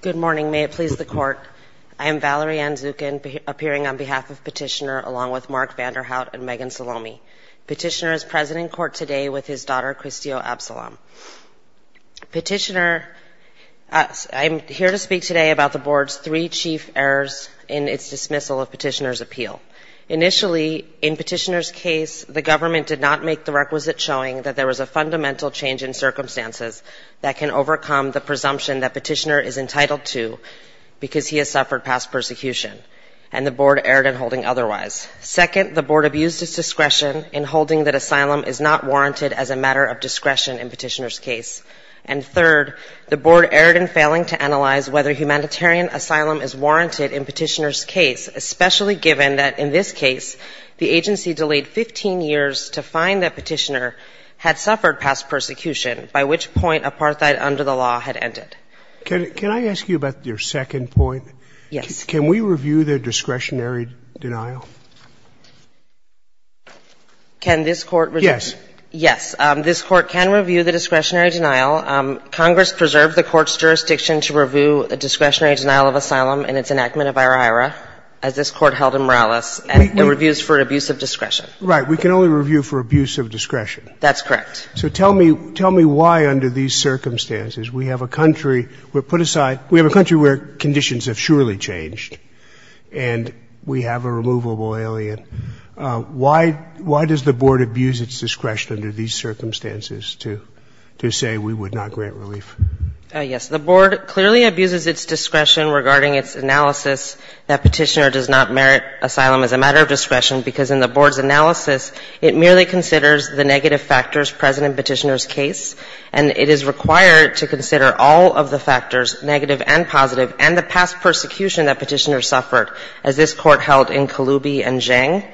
Good morning. May it please the Court, I am Valerie Ann Zukin, appearing on behalf of Petitioner, along with Mark Vanderhout and Megan Salomi. Petitioner is present in court today with his daughter Christy Absalom. Petitioner, I'm here to speak today about the Board's three chief errors in its dismissal of Petitioner's appeal. Initially, in Petitioner's case, the government did not make the requisite showing that there was a fundamental change in circumstances that can overcome the presumption that Petitioner is entitled to because he has suffered past persecution, and the Board erred in holding otherwise. Second, the Board abused its discretion in holding that asylum is not warranted as a matter of discretion in Petitioner's case. And third, the Board erred in failing to analyze whether humanitarian asylum is warranted in Petitioner's case, especially given that, in this case, the agency by which point apartheid under the law had ended. Roberts. Can I ask you about your second point? E. Lynch. Yes. Roberts. Can we review the discretionary denial? E. Lynch. Can this Court review? Roberts. Yes. E. Lynch. Yes. This Court can review the discretionary denial. Congress preserved the Court's jurisdiction to review a discretionary denial of asylum in its enactment of IHRA, as this Court held in Morales, and the reviews for abuse of discretion. Roberts. Right. We can only review for abuse of discretion. E. Lynch. That's correct. Roberts. So tell me why, under these circumstances, we have a country we put aside we have a country where conditions have surely changed, and we have a removable alien. Why does the Board abuse its discretion under these circumstances to say we would not grant relief? E. Lynch. Yes. The Board clearly abuses its discretion regarding its analysis that Petitioner does not merit asylum as a matter of discretion, because in the Board's analysis it merely considers the negative factors present in Petitioner's case, and it is required to consider all of the factors, negative and positive, and the past persecution that Petitioner suffered, as this Court held in Kaloubi and Zhang.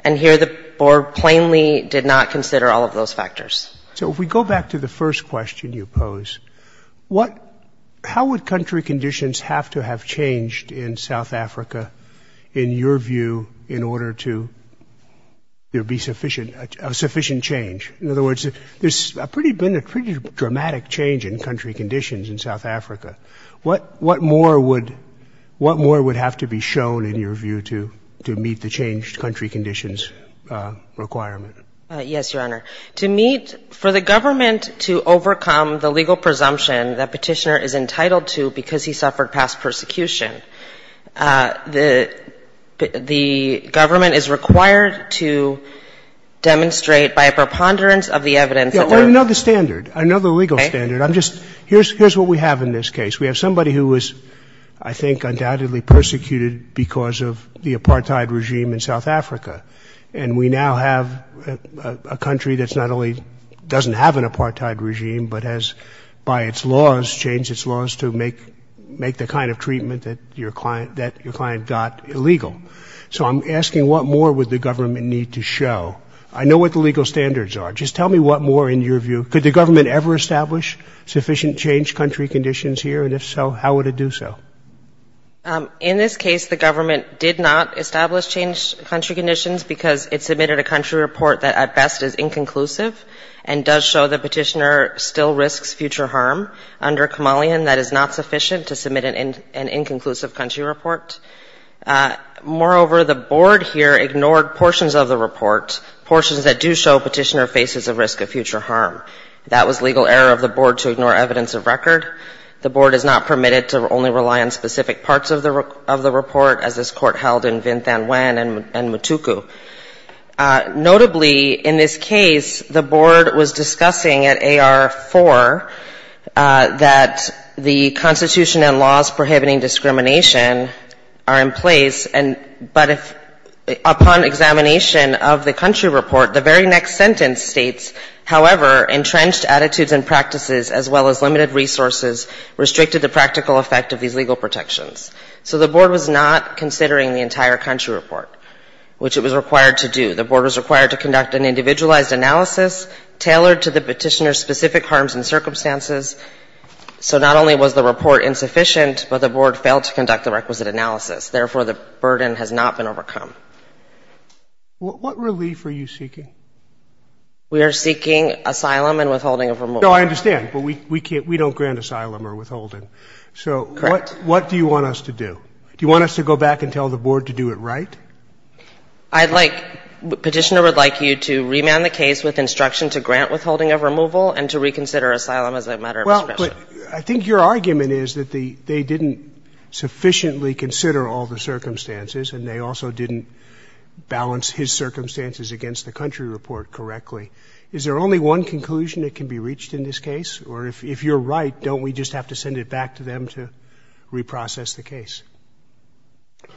And here the Board plainly did not consider all of those factors. Roberts. So if we go back to the first question you pose, what — how would country conditions have to have changed in South Africa, in your view, in order to change — to be sufficient — a sufficient change? In other words, there's been a pretty dramatic change in country conditions in South Africa. What more would — what more would have to be shown, in your view, to meet the changed country conditions requirement? E. Lynch. Yes, Your Honor. To meet — for the government to overcome the legal presumption that Petitioner is entitled to because he suffered past persecution, the government is required to demonstrate by a preponderance of the evidence Roberts. Yes, another standard, another legal standard. E. Lynch. Okay. Roberts. I'm just — here's what we have in this case. We have somebody who was, I think, undoubtedly persecuted because of the apartheid regime in South Africa. And we now have a country that's not only — doesn't have an apartheid regime, but has, by its laws, changed its laws to make — make the kind of treatment that your client — that your client got illegal. So I'm asking, what more would the government need to show? I know what the legal standards are. Just tell me what more, in your view — could the government ever establish sufficient changed country conditions here? And if so, how would it do so? E. Lynch. In this case, the government did not establish changed country conditions because it submitted a country report that, at best, is inconclusive and does show that Petitioner still risks future harm under Kamalian that is not an inclusive country report. Moreover, the board here ignored portions of the report, portions that do show Petitioner faces a risk of future harm. That was legal error of the board to ignore evidence of record. The board is not permitted to only rely on specific parts of the report, as this Court held in Vint Thanh Nguyen and Mutuku. Notably, in this case, the board was discussing at AR-4 that the Constitution and laws prohibiting discrimination are in place, but if upon examination of the country report, the very next sentence states, however, entrenched attitudes and practices, as well as limited resources, restricted the practical effect of these legal protections. So the board was not considering the entire country report, which it was required to do. The board was required to conduct an individualized analysis tailored to the Petitioner's specific harms and circumstances. So not only was the report insufficient, but the board failed to conduct the requisite analysis. Therefore, the burden has not been overcome. What relief are you seeking? We are seeking asylum and withholding of removal. No, I understand. But we can't, we don't grant asylum or withholding. Correct. So what do you want us to do? Do you want us to go back and tell the board to do it right? I'd like, Petitioner would like you to remand the case with instruction to grant asylum and withholding. Well, I think your argument is that they didn't sufficiently consider all the circumstances and they also didn't balance his circumstances against the country report correctly. Is there only one conclusion that can be reached in this case? Or if you're right, don't we just have to send it back to them to reprocess the case?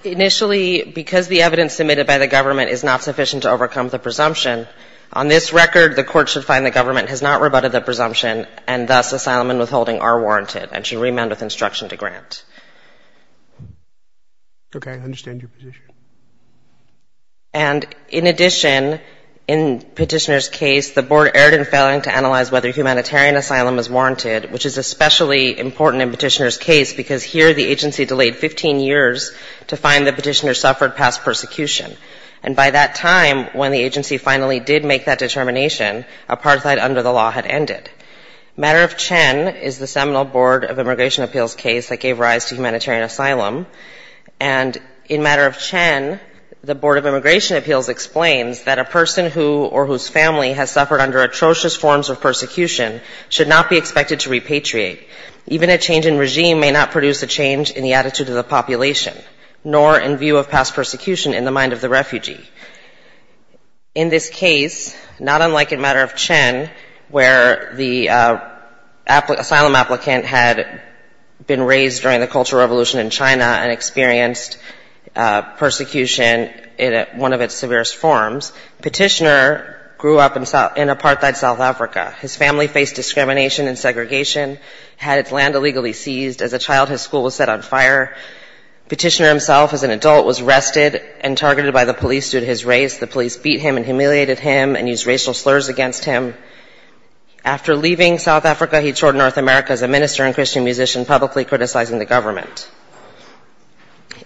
Initially, because the evidence submitted by the government is not sufficient to overcome the presumption, on this record, the Court should find the government has not rebutted the presumption and thus asylum and withholding are warranted and should remand with instruction to grant. Okay. I understand your position. And in addition, in Petitioner's case, the board erred in failing to analyze whether humanitarian asylum is warranted, which is especially important in Petitioner's case because here the agency delayed 15 years to find that Petitioner suffered past persecution. And by that time, when the agency finally did make that determination, apartheid under the law had ended. Matter of Chen is the seminal Board of Immigration Appeals case that gave rise to humanitarian asylum. And in Matter of Chen, the Board of Immigration Appeals explains that a person who or whose family has suffered under atrocious forms of persecution should not be expected to repatriate. Even a change in regime may not produce a change in the attitude of the population, nor in view of past persecution in the mind of the refugee. In this case, not unlike in Matter of Chen where the asylum applicant had been raised during the Cultural Revolution in China and experienced persecution in one of its severest forms, Petitioner grew up in apartheid South Africa. His family faced discrimination and segregation, had its land illegally seized. As a child, his school was set on fire. Petitioner himself as an adult was arrested and targeted by the police due to his race. The police beat him and humiliated him and used racial slurs against him. After leaving South Africa, he toured North America as a minister and Christian musician, publicly criticizing the government.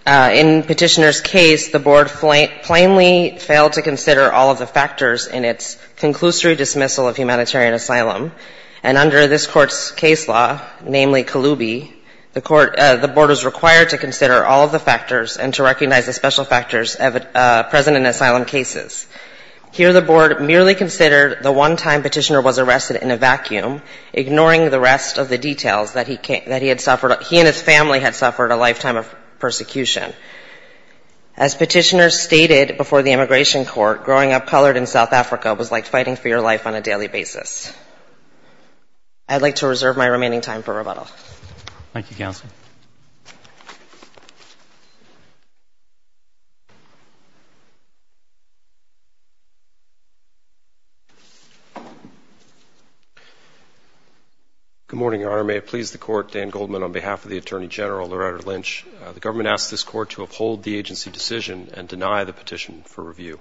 In Petitioner's case, the Board plainly failed to consider all of the factors in its conclusory dismissal of humanitarian asylum. And under this Court's case law, namely Kalubi, the Court, the Board was required to consider all of the factors and to recognize the special factors present in asylum cases. Here the Board merely considered the one time Petitioner was arrested in a vacuum, ignoring the rest of the details that he had suffered, he and his family had suffered a lifetime of persecution. As Petitioner stated before the Immigration Court, growing up colored in South I'd like to reserve my remaining time for rebuttal. Thank you, Counsel. Good morning, Your Honor. May it please the Court, Dan Goldman on behalf of the Attorney General, Loretta Lynch. The government asks this Court to uphold the agency decision and deny the petition for review.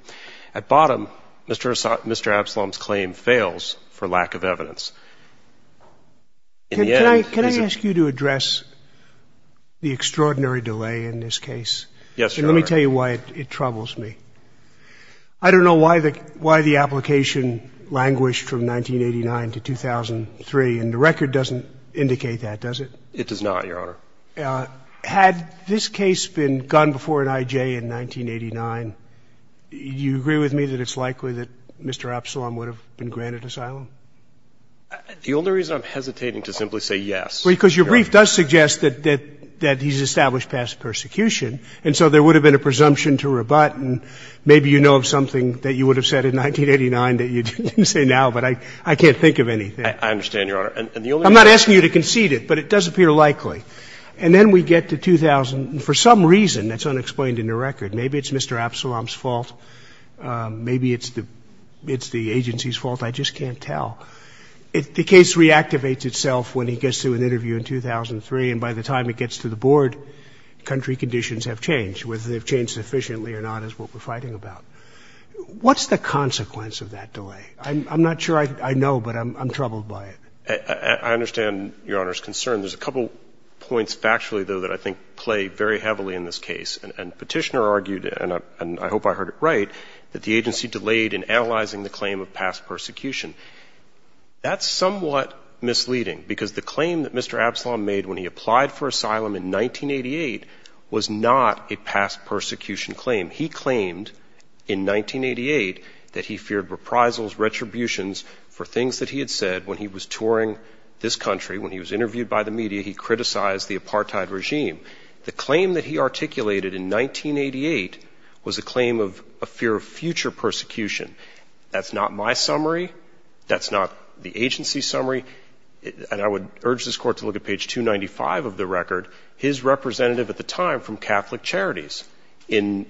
At bottom, Mr. Absalom's claim fails for lack of evidence. In the end, he's a... Can I ask you to address the extraordinary delay in this case? Yes, Your Honor. And let me tell you why it troubles me. I don't know why the application languished from 1989 to 2003, and the record doesn't indicate that, does it? It does not, Your Honor. Had this case been gone before an IJ in 1989, do you agree with me that it's likely that Mr. Absalom would have been granted asylum? The only reason I'm hesitating to simply say yes... Because your brief does suggest that he's established past persecution, and so there would have been a presumption to rebut, and maybe you know of something that you didn't say now, but I can't think of anything. I understand, Your Honor. I'm not asking you to concede it, but it does appear likely. And then we get to 2000. For some reason, that's unexplained in the record. Maybe it's Mr. Absalom's fault. Maybe it's the agency's fault. I just can't tell. The case reactivates itself when he gets to an interview in 2003, and by the time it gets to the board, country conditions have changed. Whether they've changed sufficiently or not is what we're fighting about. What's the consequence of that delay? I'm not sure I know, but I'm troubled by it. I understand Your Honor's concern. There's a couple points factually, though, that I think play very heavily in this case, and Petitioner argued, and I hope I heard it right, that the agency delayed in analyzing the claim of past persecution. That's somewhat misleading, because the claim that Mr. Absalom made when he applied for asylum in 1988 was not a past persecution claim. He claimed in 1988 that he feared reprisals, retributions for things that he had said when he was touring this country. When he was interviewed by the media, he criticized the apartheid regime. The claim that he articulated in 1988 was a claim of a fear of future persecution. That's not my summary. That's not the agency's summary. And I would urge this Court to look at page 295 of the record, his representative at the time from Catholic Charities, in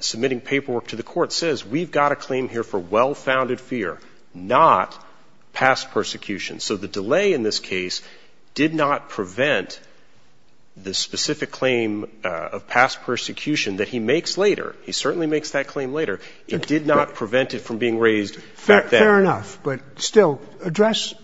submitting paperwork to the Court, says, we've got a claim here for well-founded fear, not past persecution. So the delay in this case did not prevent the specific claim of past persecution that he makes later. He certainly makes that claim later. It did not prevent it from being raised. Fair enough. But still, address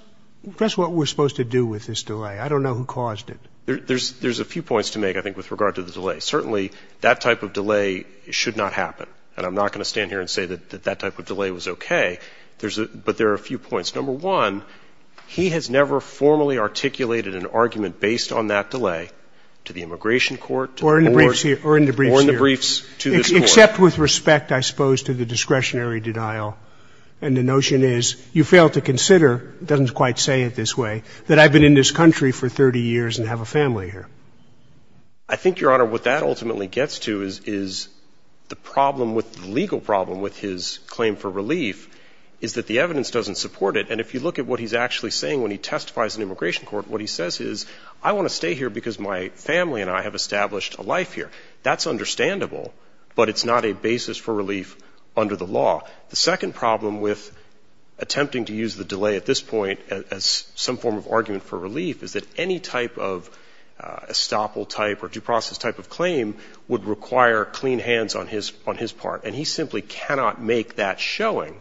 what we're supposed to do with this delay. I don't know who caused it. There's a few points to make, I think, with regard to the delay. Certainly, that type of delay should not happen. And I'm not going to stand here and say that that type of delay was okay. But there are a few points. Number one, he has never formally articulated an argument based on that delay to the Immigration Court or in the briefs to this Court. Except with respect, I suppose, to the discretionary denial. And the notion is, you fail to consider, it doesn't quite say it this way, that I've been in this country for 30 years and have a family here. I think, Your Honor, what that ultimately gets to is the problem with the legal problem with his claim for relief is that the evidence doesn't support it. And if you look at what he's actually saying when he testifies in the Immigration Court, what he says is, I want to stay here because my family and I have established a life here. That's understandable, but it's not a basis for relief under the law. The second problem with attempting to use the delay at this point as some form of relief is that any type of estoppel type or due process type of claim would require clean hands on his part. And he simply cannot make that showing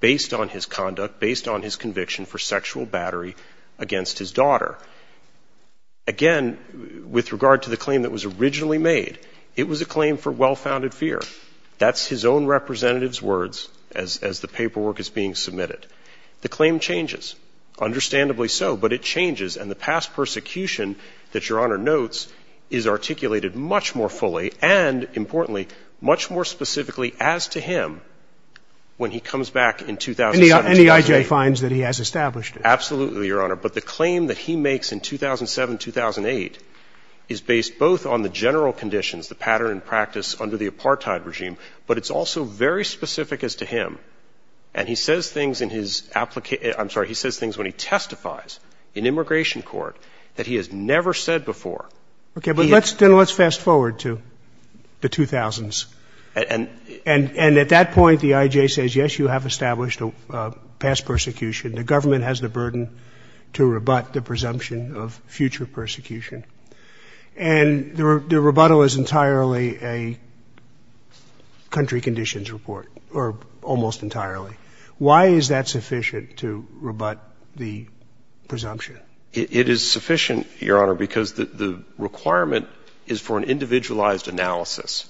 based on his conduct, based on his conviction for sexual battery against his daughter. Again, with regard to the claim that was originally made, it was a claim for well-founded fear. That's his own representative's words as the paperwork is being submitted. The claim changes, understandably so. But it changes, and the past persecution that Your Honor notes is articulated much more fully and, importantly, much more specifically as to him when he comes back in 2007, 2008. And EIJ finds that he has established it. Absolutely, Your Honor. But the claim that he makes in 2007, 2008 is based both on the general conditions, the pattern and practice under the apartheid regime, but it's also very specific as to him. And he says things in his application — I'm sorry, he says things when he testifies in immigration court that he has never said before. Okay. But let's — then let's fast forward to the 2000s. And — And at that point, the EIJ says, yes, you have established a past persecution. The government has the burden to rebut the presumption of future persecution. And the rebuttal is entirely a country conditions report, or almost entirely. Why is that sufficient to rebut the presumption? It is sufficient, Your Honor, because the requirement is for an individualized analysis.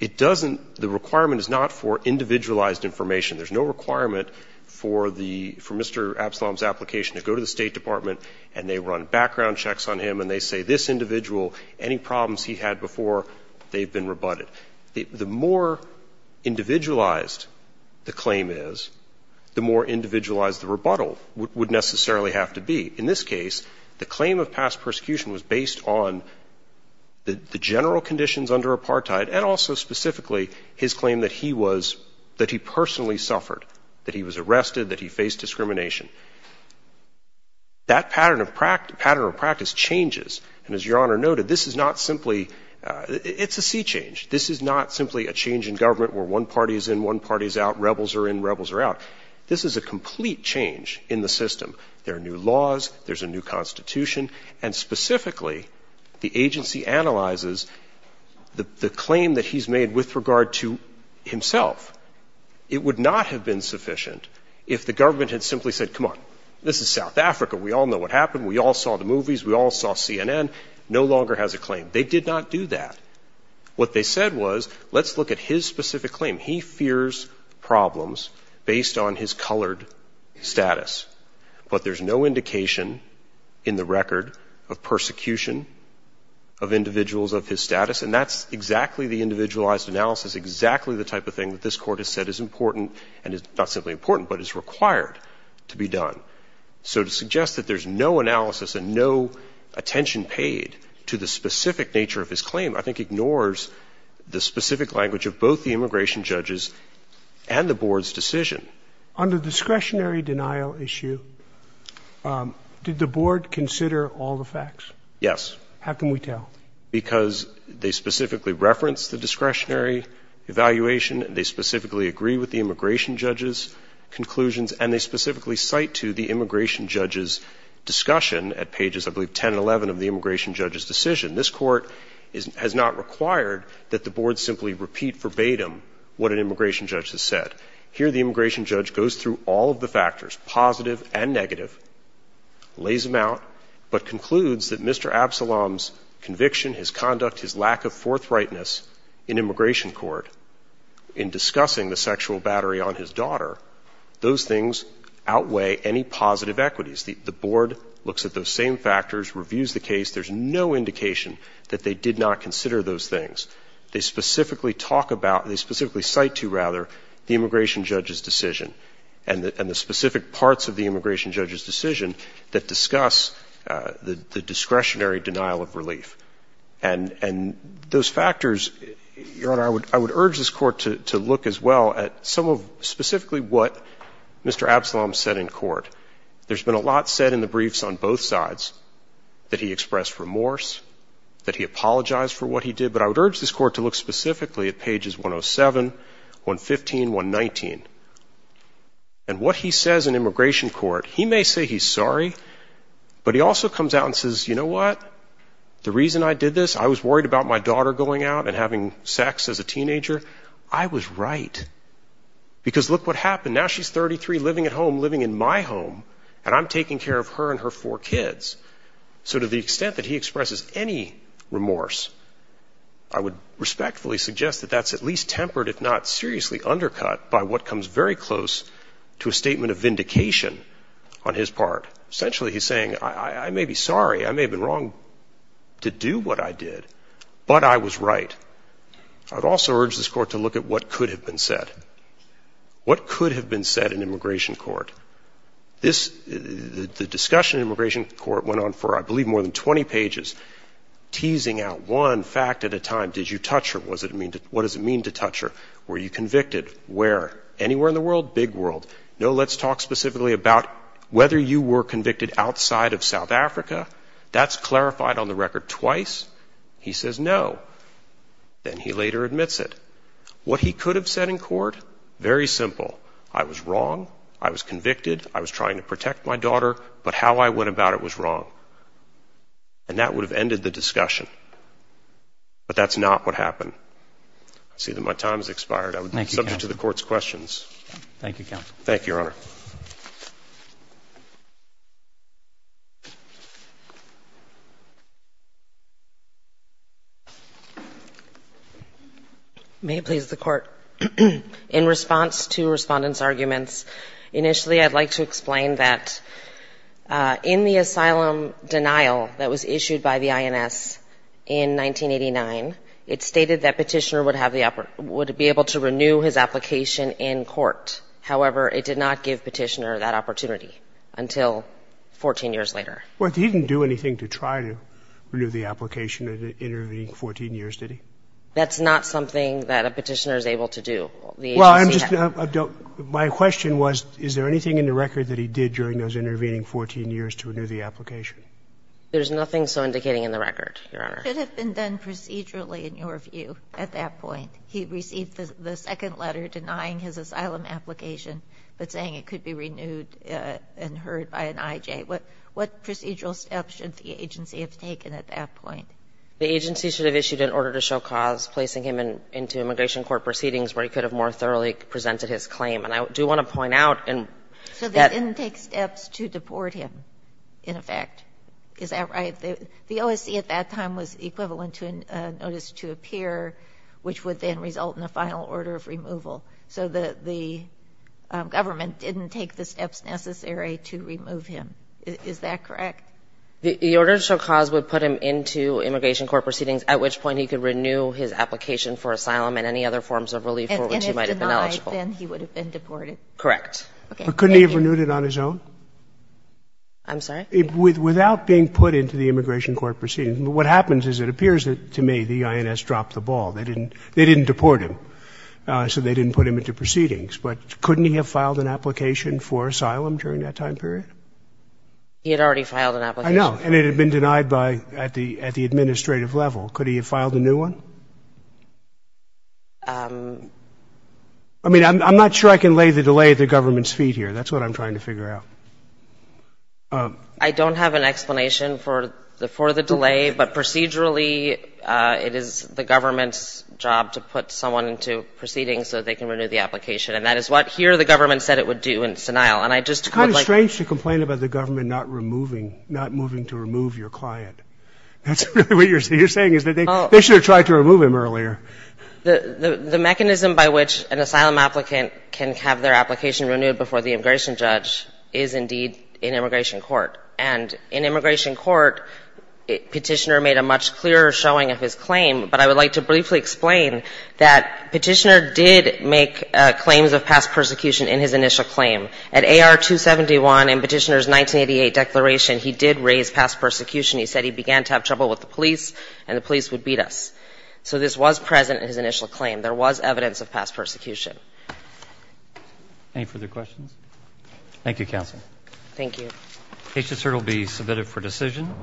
It doesn't — the requirement is not for individualized information. There's no requirement for the — for Mr. Absalom's application to go to the State Department and they run background checks on him and they say, this individual, any problems he had before, they've been rebutted. The more individualized the claim is, the more individualized the rebuttal would necessarily have to be. In this case, the claim of past persecution was based on the general conditions under apartheid and also specifically his claim that he was — that he personally suffered, that he was arrested, that he faced discrimination. That pattern of practice changes. And as Your Honor noted, this is not simply — it's a sea change. This is not simply a change in government where one party is in, one party is out, rebels are in, rebels are out. This is a complete change in the system. There are new laws. There's a new Constitution. And specifically, the agency analyzes the claim that he's made with regard to himself. It would not have been sufficient if the government had simply said, come on, this is South Africa. We all know what happened. We all saw the movies. We all saw CNN. No longer has a claim. They did not do that. What they said was, let's look at his specific claim. He fears problems based on his colored status. But there's no indication in the record of persecution of individuals of his status. And that's exactly the individualized analysis, exactly the type of thing that this Court has said is important and is not simply important but is required to be done. So to suggest that there's no analysis and no attention paid to the specific nature of his claim, I think ignores the specific language of both the immigration judges and the Board's decision. Under the discretionary denial issue, did the Board consider all the facts? Yes. How can we tell? Because they specifically reference the discretionary evaluation and they specifically agree with the immigration judge's conclusions and they specifically cite to the immigration judge's discussion at pages, I believe, 10 and 11 of the immigration judge's decision. This Court has not required that the Board simply repeat verbatim what an immigration judge has said. Here the immigration judge goes through all of the factors, positive and negative, lays them out, but concludes that Mr. Absalom's conviction, his conduct, his lack of forthrightness in immigration court in discussing the sexual battery on his daughter, those things outweigh any positive equities. The Board looks at those same factors, reviews the case. There's no indication that they did not consider those things. They specifically talk about, they specifically cite to, rather, the immigration judge's decision and the specific parts of the immigration judge's decision that discuss the discretionary denial of relief. And those factors, Your Honor, I would urge this Court to look as well at some of specifically what Mr. Absalom said in court. There's been a lot said in the briefs on both sides, that he expressed remorse, that he apologized for what he did. But I would urge this Court to look specifically at pages 107, 115, 119. And what he says in immigration court, he may say he's sorry, but he also comes out and says, you know what? The reason I did this, I was worried about my daughter going out and having sex as a teenager. I was right. Because look what happened. Now she's 33, living at home, living in my home, and I'm taking care of her and her four kids. So to the extent that he expresses any remorse, I would respectfully suggest that that's at least tempered, if not seriously undercut, by what comes very close to a statement of vindication on his part. Essentially, he's saying, I may be sorry, I may have been wrong to do what I did, but I was right. I would also urge this Court to look at what could have been said. What could have been said in immigration court? The discussion in immigration court went on for, I believe, more than 20 pages, teasing out one fact at a time. Did you touch her? What does it mean to touch her? Were you convicted? Where? Anywhere in the world? Big world. No, let's talk specifically about whether you were convicted outside of South Africa. That's clarified on the record twice. He says no. Then he later admits it. What he could have said in court? Very simple. I was wrong, I was convicted, I was trying to protect my daughter, but how I went about it was wrong. And that would have ended the discussion. But that's not what happened. I see that my time has expired. I would be subject to the Court's questions. Thank you, Counsel. Thank you, Your Honor. May it please the Court. In response to respondents' arguments, initially I'd like to explain that in the asylum denial that was issued by the INS in 1989, it stated that Petitioner would be able to renew his application in court. However, it did not give Petitioner that opportunity until 14 years later. Well, he didn't do anything to try to renew the application in the intervening 14 years, did he? That's not something that a Petitioner is able to do. Well, I'm just — my question was, is there anything in the record that he did during those intervening 14 years to renew the application? There's nothing so indicating in the record, Your Honor. It should have been done procedurally, in your view, at that point. He received the second letter denying his asylum application but saying it could be renewed and heard by an IJ. What procedural steps should the agency have taken at that point? The agency should have issued an order to show cause, placing him into immigration court proceedings where he could have more thoroughly presented his claim. And I do want to point out that — So they didn't take steps to deport him, in effect. Is that right? The OSC at that time was equivalent to a notice to appear, which would then result in a final order of removal. So the government didn't take the steps necessary to remove him. Is that correct? The order to show cause would put him into immigration court proceedings, at which point he could renew his application for asylum and any other forms of relief for which he might have been eligible. And if denied, then he would have been deported. Correct. Couldn't he have renewed it on his own? I'm sorry? Without being put into the immigration court proceedings. What happens is it appears to me the INS dropped the ball. They didn't deport him, so they didn't put him into proceedings. But couldn't he have filed an application for asylum during that time period? He had already filed an application. I know. And it had been denied at the administrative level. Could he have filed a new one? I mean, I'm not sure I can lay the delay at the government's feet here. That's what I'm trying to figure out. I don't have an explanation for the delay. But procedurally, it is the government's job to put someone into proceedings so they can renew the application. And that is what here the government said it would do, and it's denial. And I just would like to ---- It's kind of strange to complain about the government not removing, not moving to remove your client. That's really what you're saying is that they should have tried to remove him earlier. The mechanism by which an asylum applicant can have their application renewed before the immigration judge is indeed in immigration court. And in immigration court, Petitioner made a much clearer showing of his claim. But I would like to briefly explain that Petitioner did make claims of past persecution in his initial claim. At AR 271 in Petitioner's 1988 declaration, he did raise past persecution. He said he began to have trouble with the police and the police would beat us. So this was present in his initial claim. There was evidence of past persecution. Any further questions? Thank you, Counsel. Thank you. Case disserted will be submitted for decision.